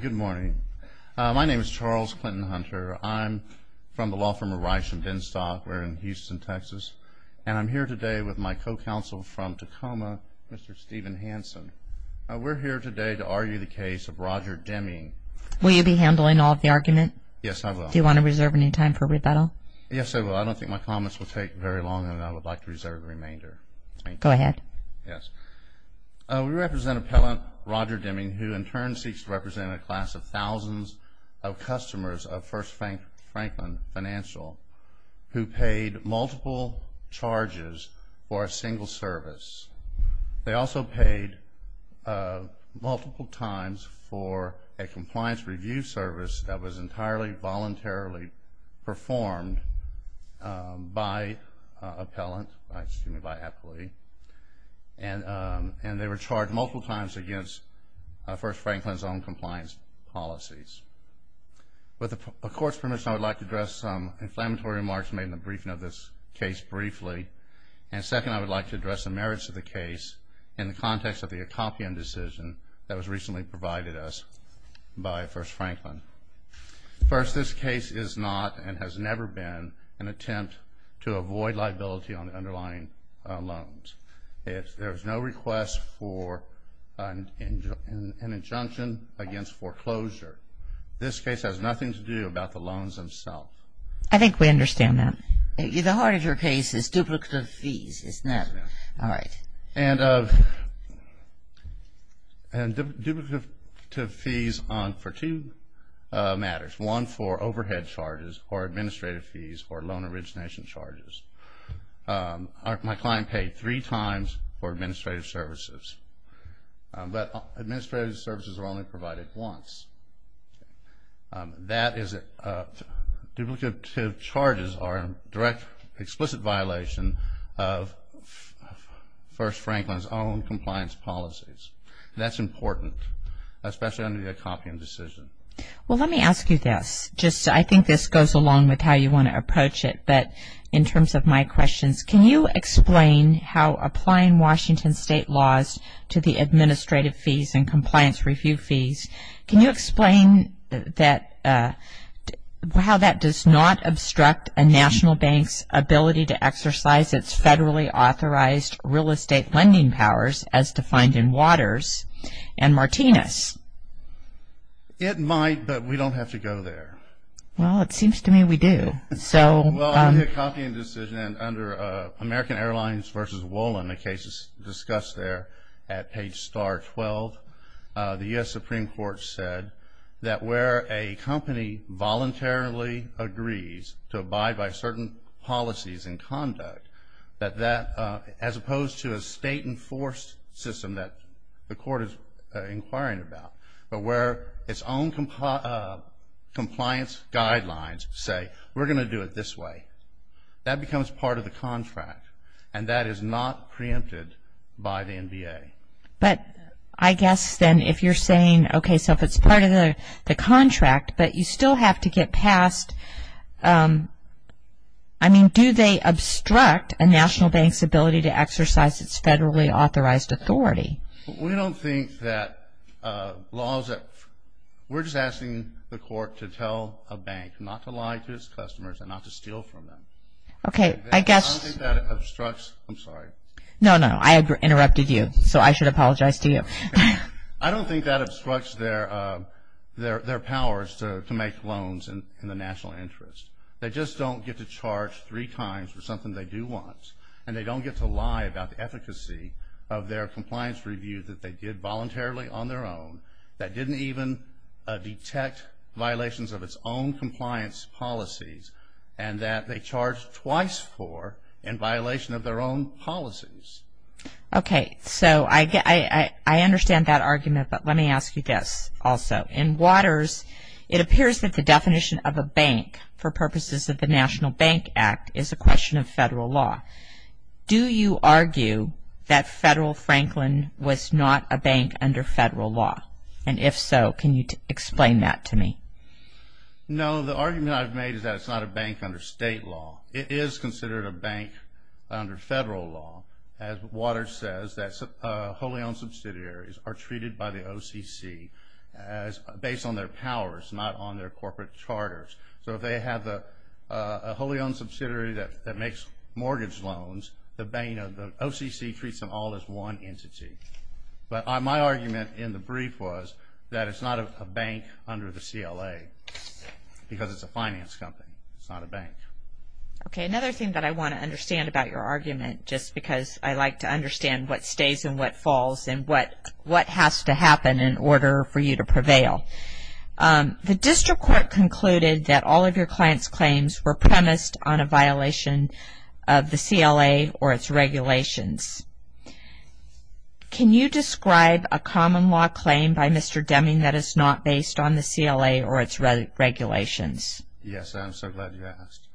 Good morning. My name is Charles Clinton Hunter. I'm from the law firm of Reich & Binstock. We're in Houston, Texas. And I'm here today with my co-counsel from Tacoma, Mr. Stephen Hansen. We're here today to argue the case of Roger Deming. Will you be handling all of the argument? Yes, I will. Do you want to reserve any time for rebuttal? Yes, I will. I don't think my comments will take very long, and I would like to reserve the remainder. Go ahead. We represent Appellant Roger Deming, who in turn seeks to represent a class of thousands of customers of First Franklin Financial who paid multiple charges for a single service. They also paid multiple times for a compliance review service that was entirely voluntarily performed by an appellant, excuse me, by an employee. And they were charged multiple times against First Franklin's own compliance policies. With the Court's permission, I would like to address some inflammatory remarks made in the briefing of this case briefly. And second, I would like to address the merits of the case in the context of the accompanying decision that was recently provided us by First Franklin. First, this case is not and has never been an attempt to avoid liability on underlying loans. There is no request for an injunction against foreclosure. This case has nothing to do about the loans themselves. I think we understand that. The heart of your case is duplicative fees, isn't it? Yes, ma'am. All right. And duplicative fees for two matters, one for overhead charges or administrative fees or loan origination charges. My client paid three times for administrative services, but administrative services were only provided once. That is duplicative charges or direct explicit violation of First Franklin's own compliance policies. That's important, especially under the accompanying decision. Well, let me ask you this. I think this goes along with how you want to approach it, but in terms of my questions, can you explain how applying Washington State laws to the administrative fees and compliance review fees, can you explain how that does not obstruct a national bank's ability to exercise its federally authorized real estate lending powers as defined in Waters and Martinez? It might, but we don't have to go there. Well, it seems to me we do. Well, in the accompanying decision, and under American Airlines v. Wolin, the case is discussed there at page star 12, the U.S. Supreme Court said that where a company voluntarily agrees to abide by certain policies and conduct, that that, as opposed to a state-enforced system that the court is inquiring about, but where its own compliance guidelines say, we're going to do it this way, that becomes part of the contract, and that is not preempted by the NBA. But I guess then if you're saying, okay, so if it's part of the contract, but you still have to get past, I mean, do they obstruct a national bank's ability to exercise its federally authorized authority? We don't think that laws that, we're just asking the court to tell a bank not to lie to its customers and not to steal from them. Okay, I guess. I don't think that obstructs, I'm sorry. No, no, I interrupted you, so I should apologize to you. I don't think that obstructs their powers to make loans in the national interest. They just don't get to charge three times for something they do want, and they don't get to lie about the efficacy of their compliance review that they did voluntarily on their own, that didn't even detect violations of its own compliance policies, and that they charged twice for in violation of their own policies. Okay, so I understand that argument, but let me ask you this also. In Waters, it appears that the definition of a bank for purposes of the National Bank Act is a question of federal law. Do you argue that Federal Franklin was not a bank under federal law? And if so, can you explain that to me? No, the argument I've made is that it's not a bank under state law. It is considered a bank under federal law, as Waters says, that wholly owned subsidiaries are treated by the OCC based on their powers, not on their corporate charters. So if they have a wholly owned subsidiary that makes mortgage loans, the OCC treats them all as one entity. But my argument in the brief was that it's not a bank under the CLA because it's a finance company. It's not a bank. Okay, another thing that I want to understand about your argument, just because I like to understand what stays and what falls and what has to happen in order for you to prevail. The district court concluded that all of your client's claims were premised on a violation of the CLA or its regulations. Can you describe a common law claim by Mr. Deming that is not based on the CLA or its regulations? Yes, I'm so glad you asked.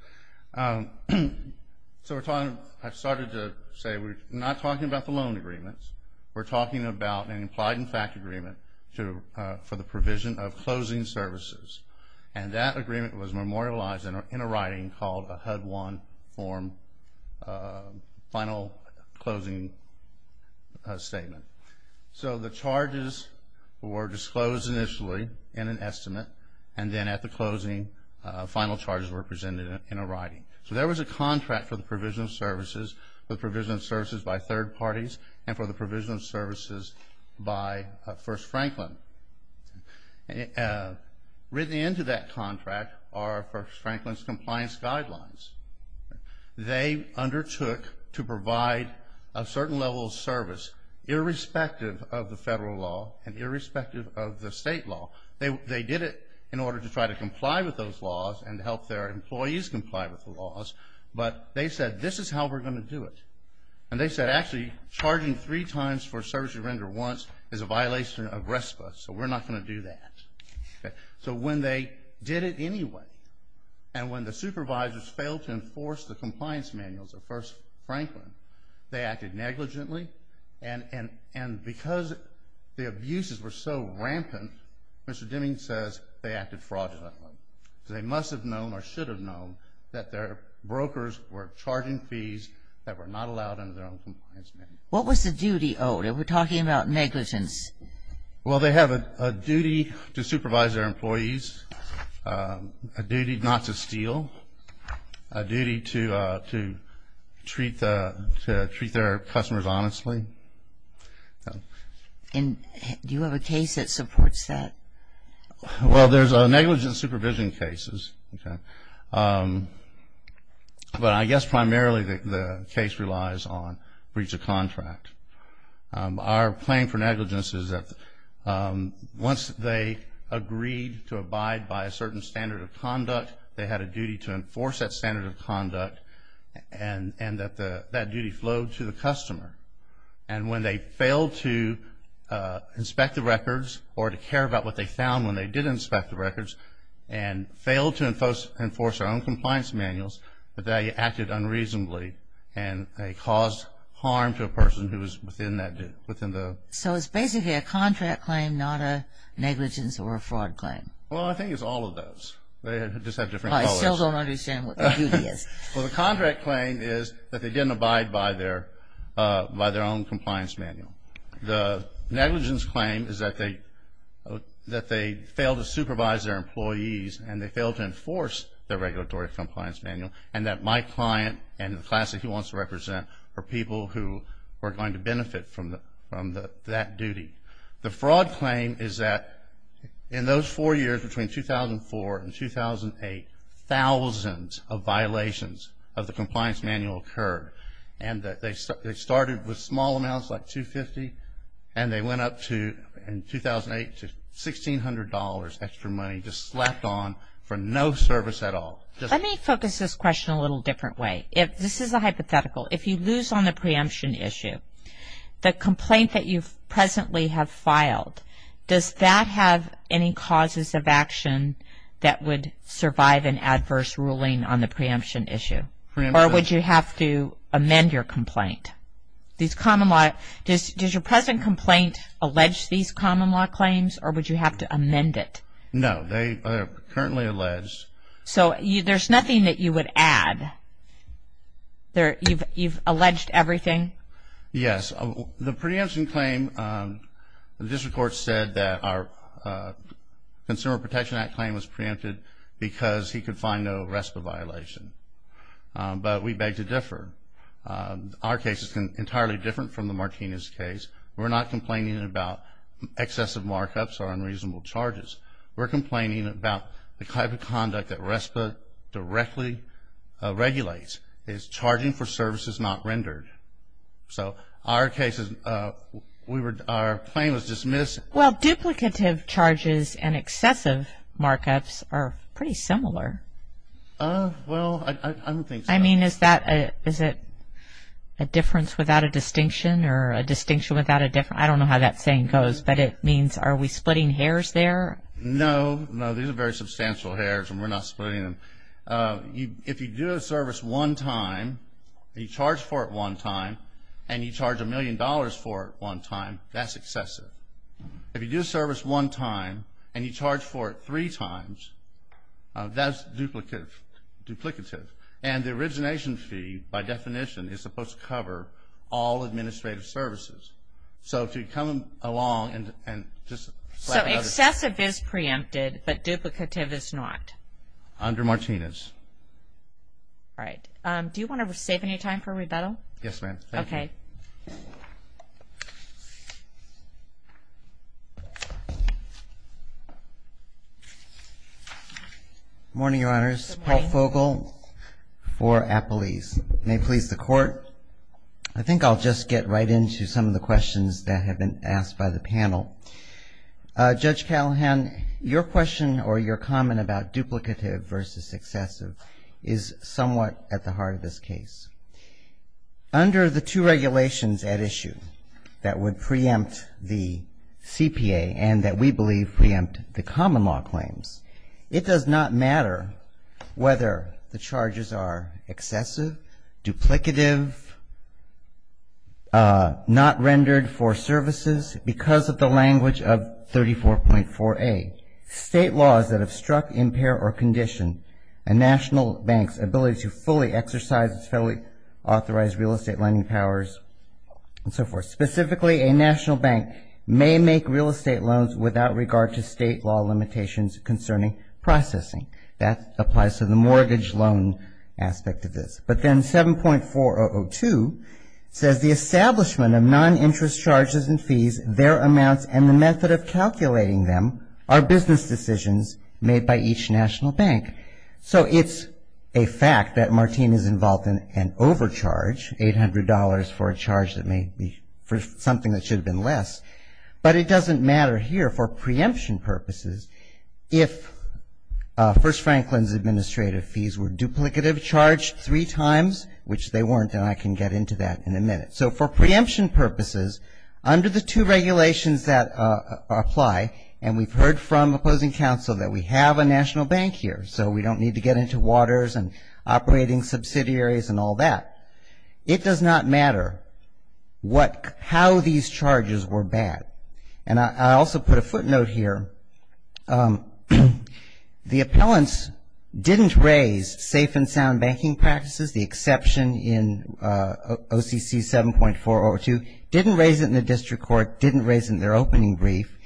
So I've started to say we're not talking about the loan agreements. We're talking about an implied and fact agreement for the provision of closing services. And that agreement was memorialized in a writing called a HUD-1 form final closing statement. So the charges were disclosed initially in an estimate, and then at the closing, final charges were presented in a writing. So there was a contract for the provision of services, for the provision of services by third parties, and for the provision of services by First Franklin. Written into that contract are First Franklin's compliance guidelines. They undertook to provide a certain level of service irrespective of the federal law and irrespective of the state law. They did it in order to try to comply with those laws and help their employees comply with the laws, but they said this is how we're going to do it. And they said actually charging three times for a service you render once is a violation of RESPA, so we're not going to do that. So when they did it anyway, and when the supervisors failed to enforce the compliance manuals of First Franklin, they acted negligently, and because the abuses were so rampant, Mr. Deming says they acted fraudulently. They must have known or should have known that their brokers were charging fees that were not allowed under their own compliance manual. What was the duty owed? We're talking about negligence. Well, they have a duty to supervise their employees, a duty not to steal, a duty to treat their customers honestly. And do you have a case that supports that? Well, there's negligence supervision cases, but I guess primarily the case relies on breach of contract. Our claim for negligence is that once they agreed to abide by a certain standard of conduct, they had a duty to enforce that standard of conduct, and that duty flowed to the customer. And when they failed to inspect the records or to care about what they found when they did inspect the records and failed to enforce their own compliance manuals, that they acted unreasonably and they caused harm to a person who was within that duty, within the. So it's basically a contract claim, not a negligence or a fraud claim. Well, I think it's all of those. They just have different colors. I still don't understand what the duty is. Well, the contract claim is that they didn't abide by their own compliance manual. The negligence claim is that they failed to supervise their employees and they failed to enforce their regulatory compliance manual, and that my client and the class that he wants to represent are people who are going to benefit from that duty. The fraud claim is that in those four years, between 2004 and 2008, thousands of violations of the compliance manual occurred. And they started with small amounts, like $250, and they went up to, in 2008, to $1,600 extra money, just slapped on for no service at all. Let me focus this question a little different way. This is a hypothetical. If you lose on the preemption issue, the complaint that you presently have filed, does that have any causes of action that would survive an adverse ruling on the preemption issue? Or would you have to amend your complaint? Does your present complaint allege these common law claims, or would you have to amend it? No, they are currently alleged. So there's nothing that you would add? You've alleged everything? Yes. The preemption claim, the district court said that our Consumer Protection Act claim was preempted because he could find no RESPA violation. But we beg to differ. Our case is entirely different from the Martinez case. We're not complaining about excessive markups or unreasonable charges. We're complaining about the type of conduct that RESPA directly regulates. It's charging for services not rendered. So our claim was dismissed. Well, duplicative charges and excessive markups are pretty similar. Well, I don't think so. I mean, is it a difference without a distinction or a distinction without a difference? I don't know how that saying goes, but it means are we splitting hairs there? No. No, these are very substantial hairs, and we're not splitting them. If you do a service one time, you charge for it one time, and you charge a million dollars for it one time, that's excessive. If you do a service one time and you charge for it three times, that's duplicative. And the origination fee, by definition, is supposed to cover all administrative services. So if you come along and just slap it up. So excessive is preempted, but duplicative is not? Under Martinez. All right. Do you want to save any time for rebuttal? Yes, ma'am. Thank you. Okay. Good morning, Your Honors. Good morning. Paul Fogel for Appalese. May it please the Court. I think I'll just get right into some of the questions that have been asked by the panel. Judge Callahan, your question or your comment about duplicative versus excessive is somewhat at the heart of this case. Under the two regulations at issue that would preempt the CPA and that we believe preempt the common law claims, it does not matter whether the charges are excessive, duplicative, not rendered for services, because of the language of 34.4A, state laws that obstruct, impair, or condition a national bank's ability to fully exercise its federally authorized real estate lending powers and so forth. Specifically, a national bank may make real estate loans without regard to state law limitations concerning processing. That applies to the mortgage loan aspect of this. But then 7.4002 says the establishment of non-interest charges and fees, their amounts, and the method of calculating them are business decisions made by each national bank. So it's a fact that Martine is involved in an overcharge, $800 for a charge that may be for something that should have been less. But it doesn't matter here for preemption purposes if First Franklin's administrative fees were duplicative, charged three times, which they weren't, and I can get into that in a minute. So for preemption purposes, under the two regulations that apply, and we've heard from opposing counsel that we have a national bank here, so we don't need to get into waters and operating subsidiaries and all that. It does not matter what, how these charges were bad. And I also put a footnote here. The appellants didn't raise safe and sound banking practices, the exception in OCC 7.4002, didn't raise it in the district court, didn't raise it in their opening brief.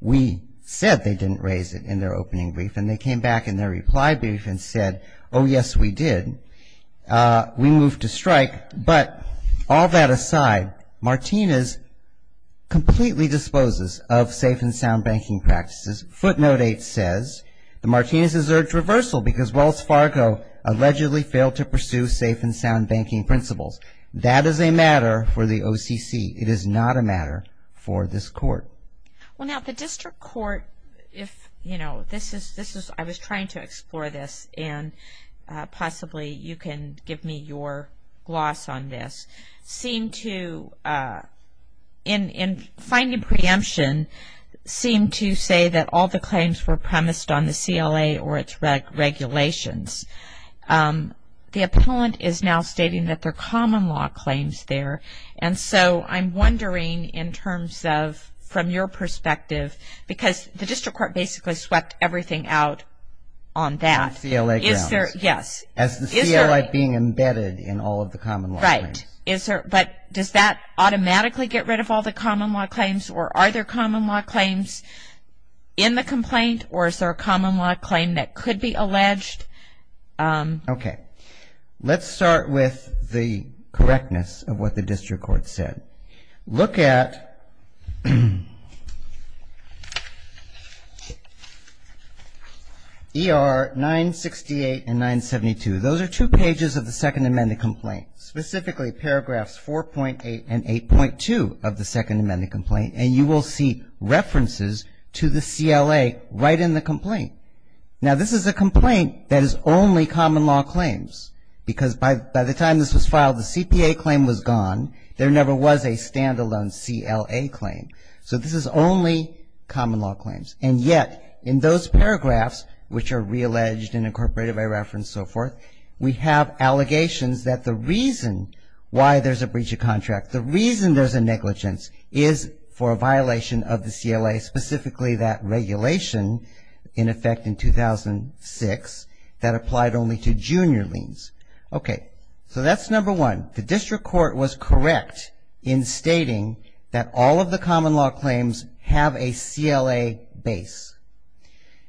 We said they didn't raise it in their opening brief. And they came back in their reply brief and said, oh, yes, we did. We moved to strike. But all that aside, Martinez completely disposes of safe and sound banking practices. Footnote 8 says that Martinez has urged reversal because Wells Fargo allegedly failed to pursue safe and sound banking principles. That is a matter for the OCC. It is not a matter for this court. Well, now, the district court, if, you know, this is, I was trying to explore this, and possibly you can give me your gloss on this, seem to, in finding preemption, seem to say that all the claims were premised on the CLA or its regulations. The appellant is now stating that they're common law claims there. And so I'm wondering in terms of, from your perspective, because the district court basically swept everything out on that. On CLA grounds. Yes. As the CLA being embedded in all of the common law claims. Right. But does that automatically get rid of all the common law claims or are there common law claims in the complaint or is there a common law claim that could be alleged? Okay. Let's start with the correctness of what the district court said. Look at ER 968 and 972. Those are two pages of the Second Amendment complaint, specifically paragraphs 4.8 and 8.2 of the Second Amendment complaint. And you will see references to the CLA right in the complaint. Now, this is a complaint that is only common law claims because by the time this was filed, the CPA claim was gone. There never was a standalone CLA claim. So this is only common law claims. And yet in those paragraphs, which are realleged and incorporated by reference and so forth, the reason there's a negligence is for a violation of the CLA, specifically that regulation in effect in 2006 that applied only to junior liens. Okay. So that's number one. The district court was correct in stating that all of the common law claims have a CLA base.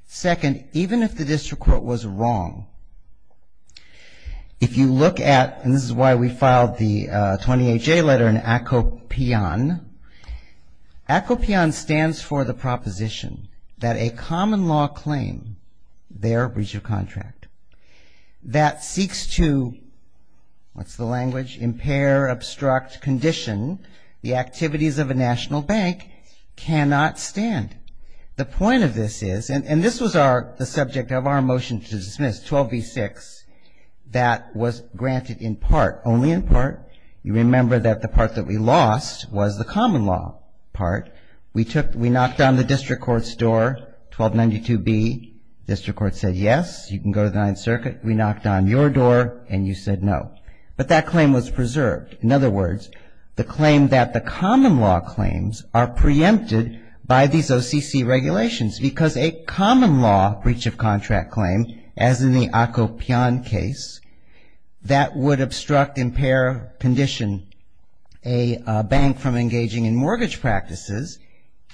Second, even if the district court was wrong, if you look at And this is why we filed the 20HA letter in ACOPION. ACOPION stands for the proposition that a common law claim, their breach of contract, that seeks to, what's the language, impair, obstruct, condition the activities of a national bank cannot stand. The point of this is, and this was the subject of our motion to dismiss, 12b-6, that was granted in part, only in part. You remember that the part that we lost was the common law part. We knocked on the district court's door, 1292B. The district court said yes, you can go to the Ninth Circuit. We knocked on your door and you said no. But that claim was preserved. In other words, the claim that the common law claims are preempted by these OCC regulations because a common law breach of contract claim, as in the ACOPION case, that would obstruct, impair, condition a bank from engaging in mortgage practices,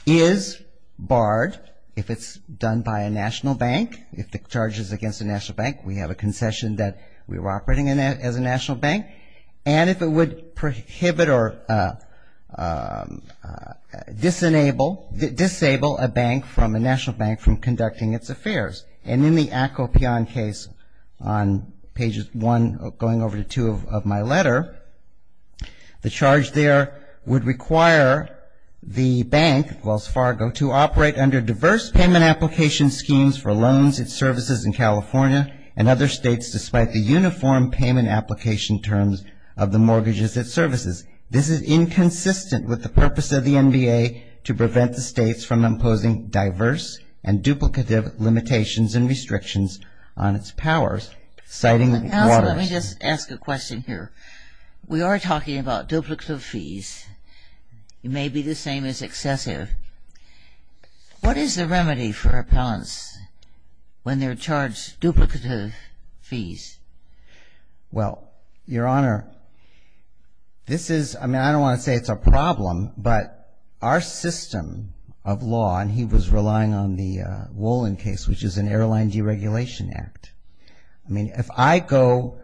is barred if it's done by a national bank. If the charge is against a national bank, we have a concession that we're operating as a national bank. And if it would prohibit or disable a bank from, a national bank from conducting its affairs. And in the ACOPION case on pages 1 going over to 2 of my letter, the charge there would require the bank, Wells Fargo, to operate under diverse payment application schemes for loans and services in California and other states despite the uniform payment application terms of the mortgages and services. This is inconsistent with the purpose of the NBA to prevent the states from imposing diverse and duplicative limitations and restrictions on its powers, citing Waters. Let me just ask a question here. We are talking about duplicative fees. It may be the same as excessive. What is the remedy for appellants when they're charged duplicative fees? Well, Your Honor, this is, I mean, I don't want to say it's a problem, but our system of law, and he was relying on the Wolin case, which is an airline deregulation act. I mean, if I go,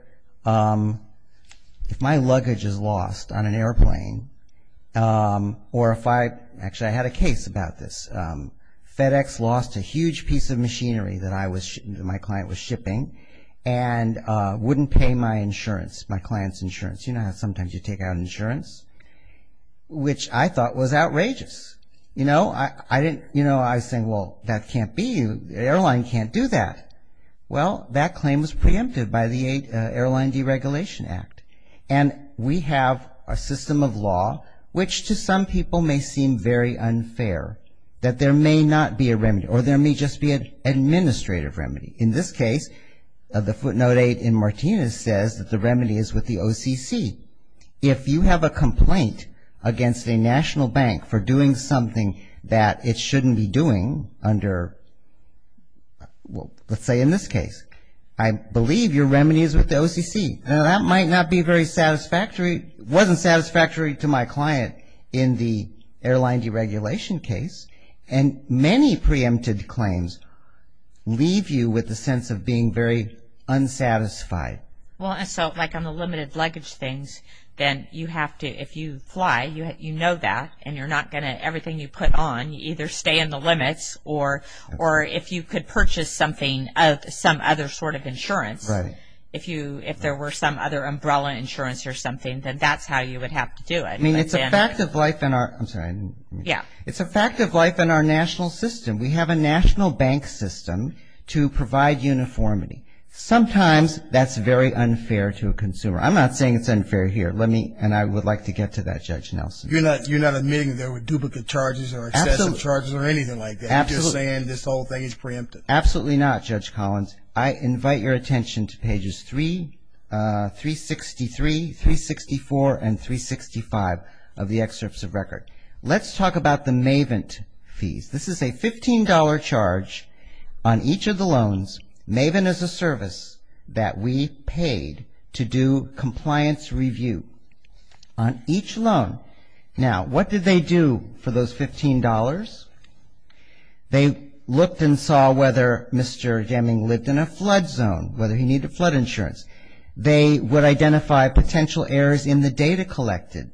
if my luggage is lost on an airplane, or if I, actually, I had a case about this. FedEx lost a huge piece of machinery that my client was shipping and wouldn't pay my insurance, my client's insurance. You know how sometimes you take out insurance, which I thought was outrageous. You know, I was saying, well, that can't be. The airline can't do that. Well, that claim was preempted by the airline deregulation act. And we have a system of law, which to some people may seem very unfair, that there may not be a remedy, or there may just be an administrative remedy. In this case, the footnote 8 in Martinez says that the remedy is with the OCC. If you have a complaint against a national bank for doing something that it shouldn't be doing under, well, let's say in this case, I believe your remedy is with the OCC. Now, that might not be very satisfactory, wasn't satisfactory to my client in the airline deregulation case. And many preempted claims leave you with the sense of being very unsatisfied. Well, and so, like on the limited luggage things, then you have to, if you fly, you know that, and you're not going to, everything you put on, you either stay in the limits, or if you could purchase something, some other sort of insurance, if there were some other umbrella insurance or something, then that's how you would have to do it. I mean, it's a fact of life in our, I'm sorry. Yeah. It's a fact of life in our national system. We have a national bank system to provide uniformity. Sometimes that's very unfair to a consumer. I'm not saying it's unfair here, and I would like to get to that, Judge Nelson. You're not admitting there were duplicate charges or excessive charges or anything like that. You're just saying this whole thing is preempted. Absolutely not, Judge Collins. I invite your attention to pages 363, 364, and 365 of the excerpts of record. Let's talk about the MAVENT fees. This is a $15 charge on each of the loans. MAVENT is a service that we paid to do compliance review on each loan. Now, what did they do for those $15? They looked and saw whether Mr. Jamming lived in a flood zone, whether he needed flood insurance. They would identify potential errors in the data collected.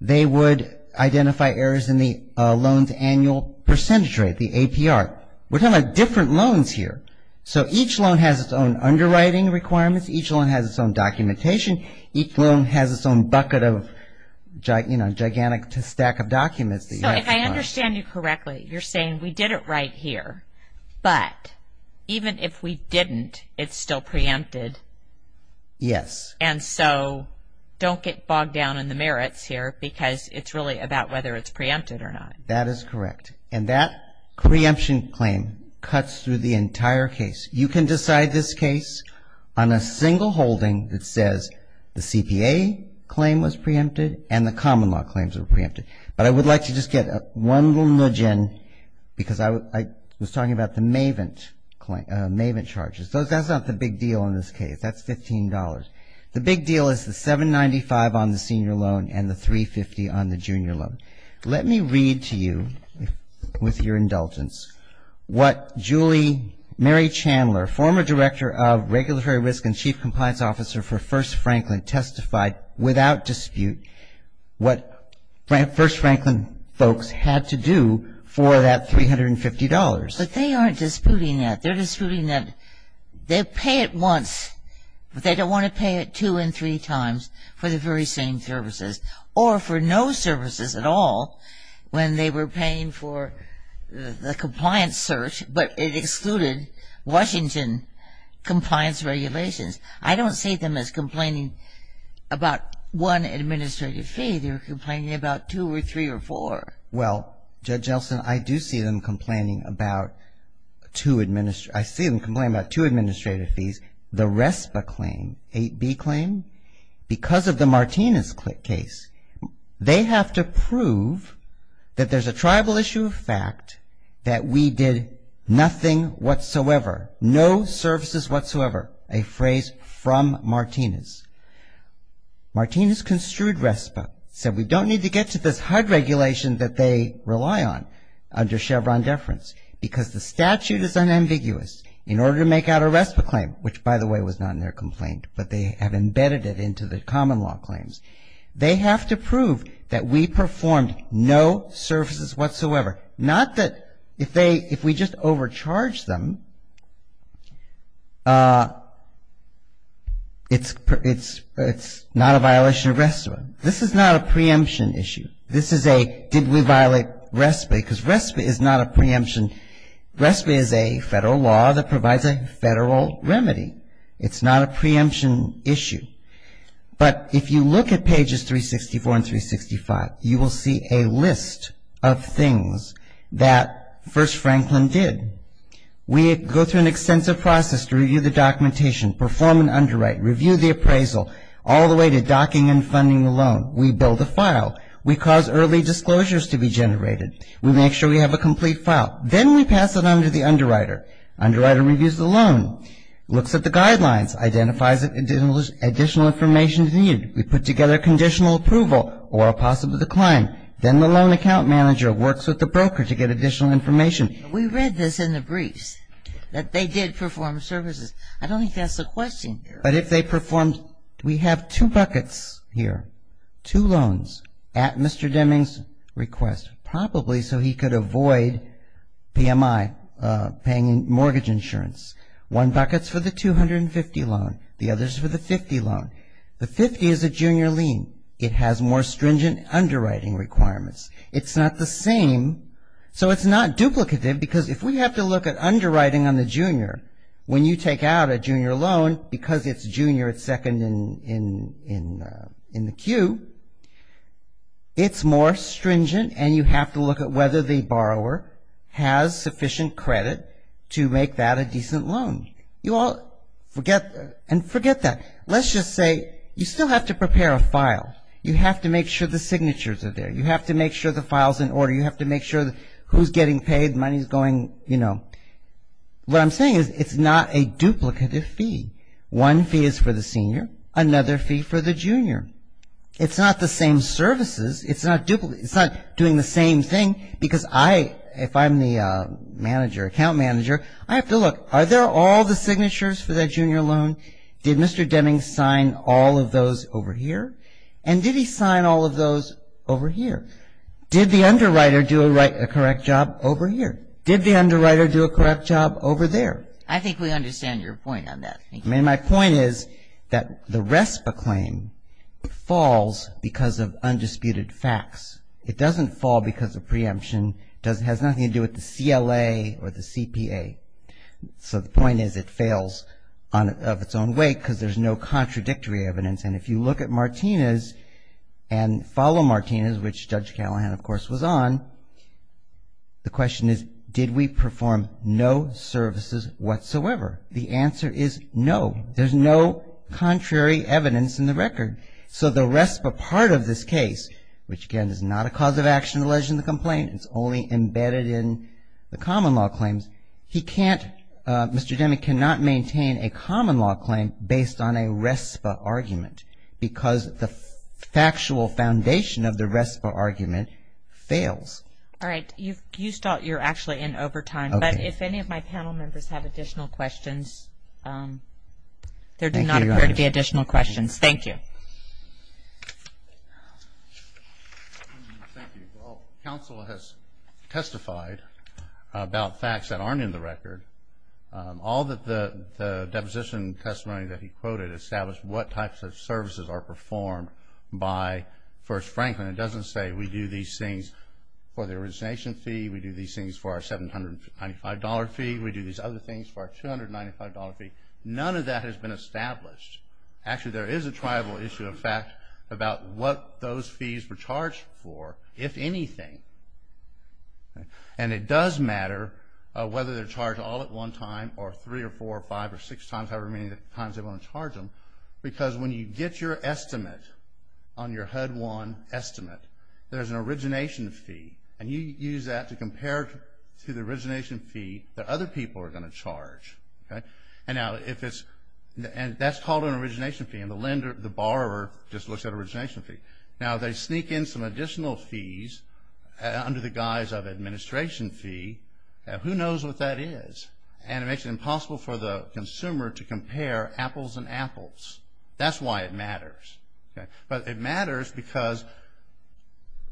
They would identify errors in the loan's annual percentage rate, the APR. We're talking about different loans here. So each loan has its own underwriting requirements. Each loan has its own documentation. Each loan has its own bucket of, you know, gigantic stack of documents. So if I understand you correctly, you're saying we did it right here, but even if we didn't, it's still preempted. Yes. And so don't get bogged down in the merits here because it's really about whether it's preempted or not. That is correct. And that preemption claim cuts through the entire case. You can decide this case on a single holding that says the CPA claim was preempted and the common law claims were preempted. But I would like to just get one little nudge in because I was talking about the Mavent charges. That's not the big deal in this case. That's $15. The big deal is the $795 on the senior loan and the $350 on the junior loan. Let me read to you with your indulgence what Julie Mary Chandler, former Director of Regulatory Risk and Chief Compliance Officer for First Franklin, without dispute what First Franklin folks had to do for that $350. But they aren't disputing that. They're disputing that they pay it once, but they don't want to pay it two and three times for the very same services or for no services at all when they were paying for the compliance search, but it excluded Washington compliance regulations. I don't see them as complaining about one administrative fee. They were complaining about two or three or four. Well, Judge Elson, I do see them complaining about two administrative fees. The RESPA claim, 8B claim, because of the Martinez case, they have to prove that there's a tribal issue of fact that we did nothing whatsoever, no services whatsoever, a phrase from Martinez. Martinez construed RESPA, said we don't need to get to this HUD regulation that they rely on under Chevron deference because the statute is unambiguous in order to make out a RESPA claim, which by the way was not in their complaint, but they have embedded it into the common law claims. They have to prove that we performed no services whatsoever, not that if we just overcharged them, it's not a violation of RESPA. This is not a preemption issue. This is a did we violate RESPA because RESPA is not a preemption. RESPA is a federal law that provides a federal remedy. It's not a preemption issue. But if you look at pages 364 and 365, you will see a list of things that First Franklin did. We go through an extensive process to review the documentation, perform an underwrite, review the appraisal, all the way to docking and funding the loan. We build a file. We cause early disclosures to be generated. We make sure we have a complete file. Then we pass it on to the underwriter. Underwriter reviews the loan, looks at the guidelines, identifies additional information needed. We put together conditional approval or a possible decline. Then the loan account manager works with the broker to get additional information. We read this in the briefs, that they did perform services. I don't think that's the question. But if they performed, we have two buckets here, two loans at Mr. Deming's request, probably so he could avoid PMI, paying mortgage insurance. One bucket is for the 250 loan. The other is for the 50 loan. The 50 is a junior lien. It has more stringent underwriting requirements. It's not the same, so it's not duplicative because if we have to look at underwriting on the junior, when you take out a junior loan, because it's junior, it's second in the queue, it's more stringent and you have to look at whether the borrower has sufficient credit to make that a decent loan. You all forget, and forget that. Let's just say you still have to prepare a file. You have to make sure the signatures are there. You have to make sure the file's in order. You have to make sure who's getting paid, money's going, you know. What I'm saying is it's not a duplicative fee. One fee is for the senior, another fee for the junior. It's not the same services. It's not doing the same thing because I, if I'm the manager, account manager, I have to look. Are there all the signatures for that junior loan? Did Mr. Deming sign all of those over here? And did he sign all of those over here? Did the underwriter do a correct job over here? Did the underwriter do a correct job over there? I think we understand your point on that. I mean, my point is that the RESPA claim falls because of undisputed facts. It doesn't fall because of preemption. It has nothing to do with the CLA or the CPA. So the point is it fails of its own weight because there's no contradictory evidence. And if you look at Martinez and follow Martinez, which Judge Callahan, of course, was on, the question is did we perform no services whatsoever? The answer is no. There's no contrary evidence in the record. So the RESPA part of this case, which, again, is not a cause of action alleged in the complaint. It's only embedded in the common law claims. He can't, Mr. Deming cannot maintain a common law claim based on a RESPA argument because the factual foundation of the RESPA argument fails. All right. You start. You're actually in overtime. But if any of my panel members have additional questions, there do not appear to be additional questions. Thank you. Thank you. Well, counsel has testified about facts that aren't in the record. All that the deposition testimony that he quoted established what types of services are performed by First Franklin. It doesn't say we do these things for the resignation fee. We do these things for our $795 fee. We do these other things for our $295 fee. None of that has been established. Actually, there is a tribal issue of fact about what those fees were charged for, if anything. And it does matter whether they're charged all at one time or three or four or five or six times, however many times they want to charge them. Because when you get your estimate on your HUD-1 estimate, there's an origination fee. And you use that to compare to the origination fee that other people are going to charge. And that's called an origination fee. And the borrower just looks at origination fee. Now, they sneak in some additional fees under the guise of administration fee. Who knows what that is? And it makes it impossible for the consumer to compare apples and apples. That's why it matters. But it matters because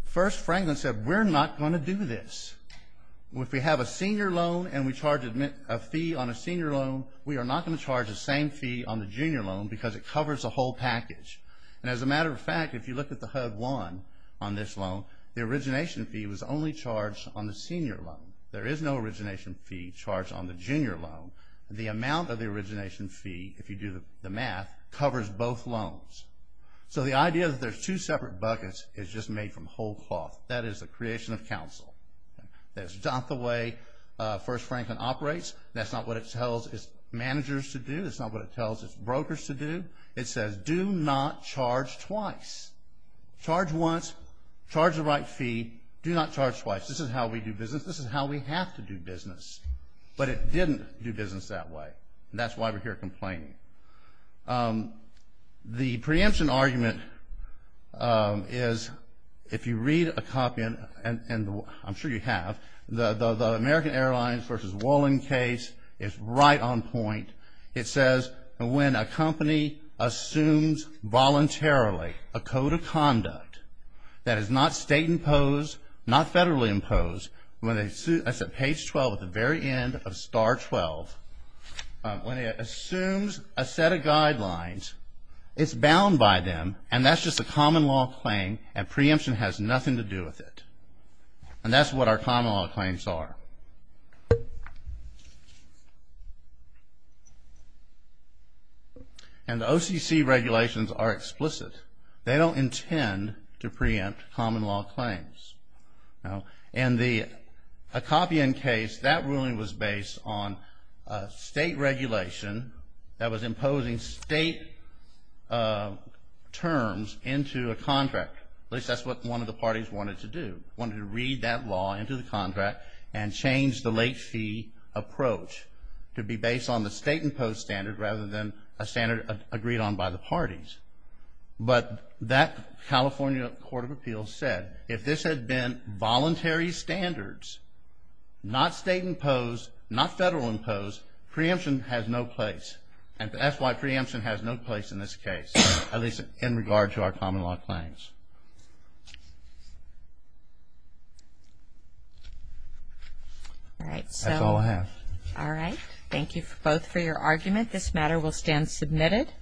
First Franklin said we're not going to do this. If we have a senior loan and we charge a fee on a senior loan, we are not going to charge the same fee on the junior loan because it covers the whole package. And as a matter of fact, if you look at the HUD-1 on this loan, the origination fee was only charged on the senior loan. There is no origination fee charged on the junior loan. The amount of the origination fee, if you do the math, covers both loans. So the idea that there's two separate buckets is just made from whole cloth. That is the creation of counsel. That's not the way First Franklin operates. That's not what it tells its managers to do. That's not what it tells its brokers to do. It says do not charge twice. Charge once, charge the right fee, do not charge twice. This is how we do business. This is how we have to do business. But it didn't do business that way. And that's why we're here complaining. The preemption argument is if you read a copy, and I'm sure you have, the American Airlines versus Wallen case is right on point. It says when a company assumes voluntarily a code of conduct that is not state imposed, not federally imposed, that's at page 12 at the very end of star 12, when it assumes a set of guidelines, it's bound by them, and that's just a common law claim, and preemption has nothing to do with it. And that's what our common law claims are. And the OCC regulations are explicit. They don't intend to preempt common law claims. In the Akopian case, that ruling was based on a state regulation that was imposing state terms into a contract. At least that's what one of the parties wanted to do, wanted to read that law into the contract and change the late fee approach to be based on the state imposed standard rather than a standard agreed on by the parties. But that California Court of Appeals said if this had been voluntary standards, not state imposed, not federal imposed, preemption has no place. And that's why preemption has no place in this case, at least in regard to our common law claims. All right. That's all I have. All right. Thank you both for your argument. This matter will stand submitted.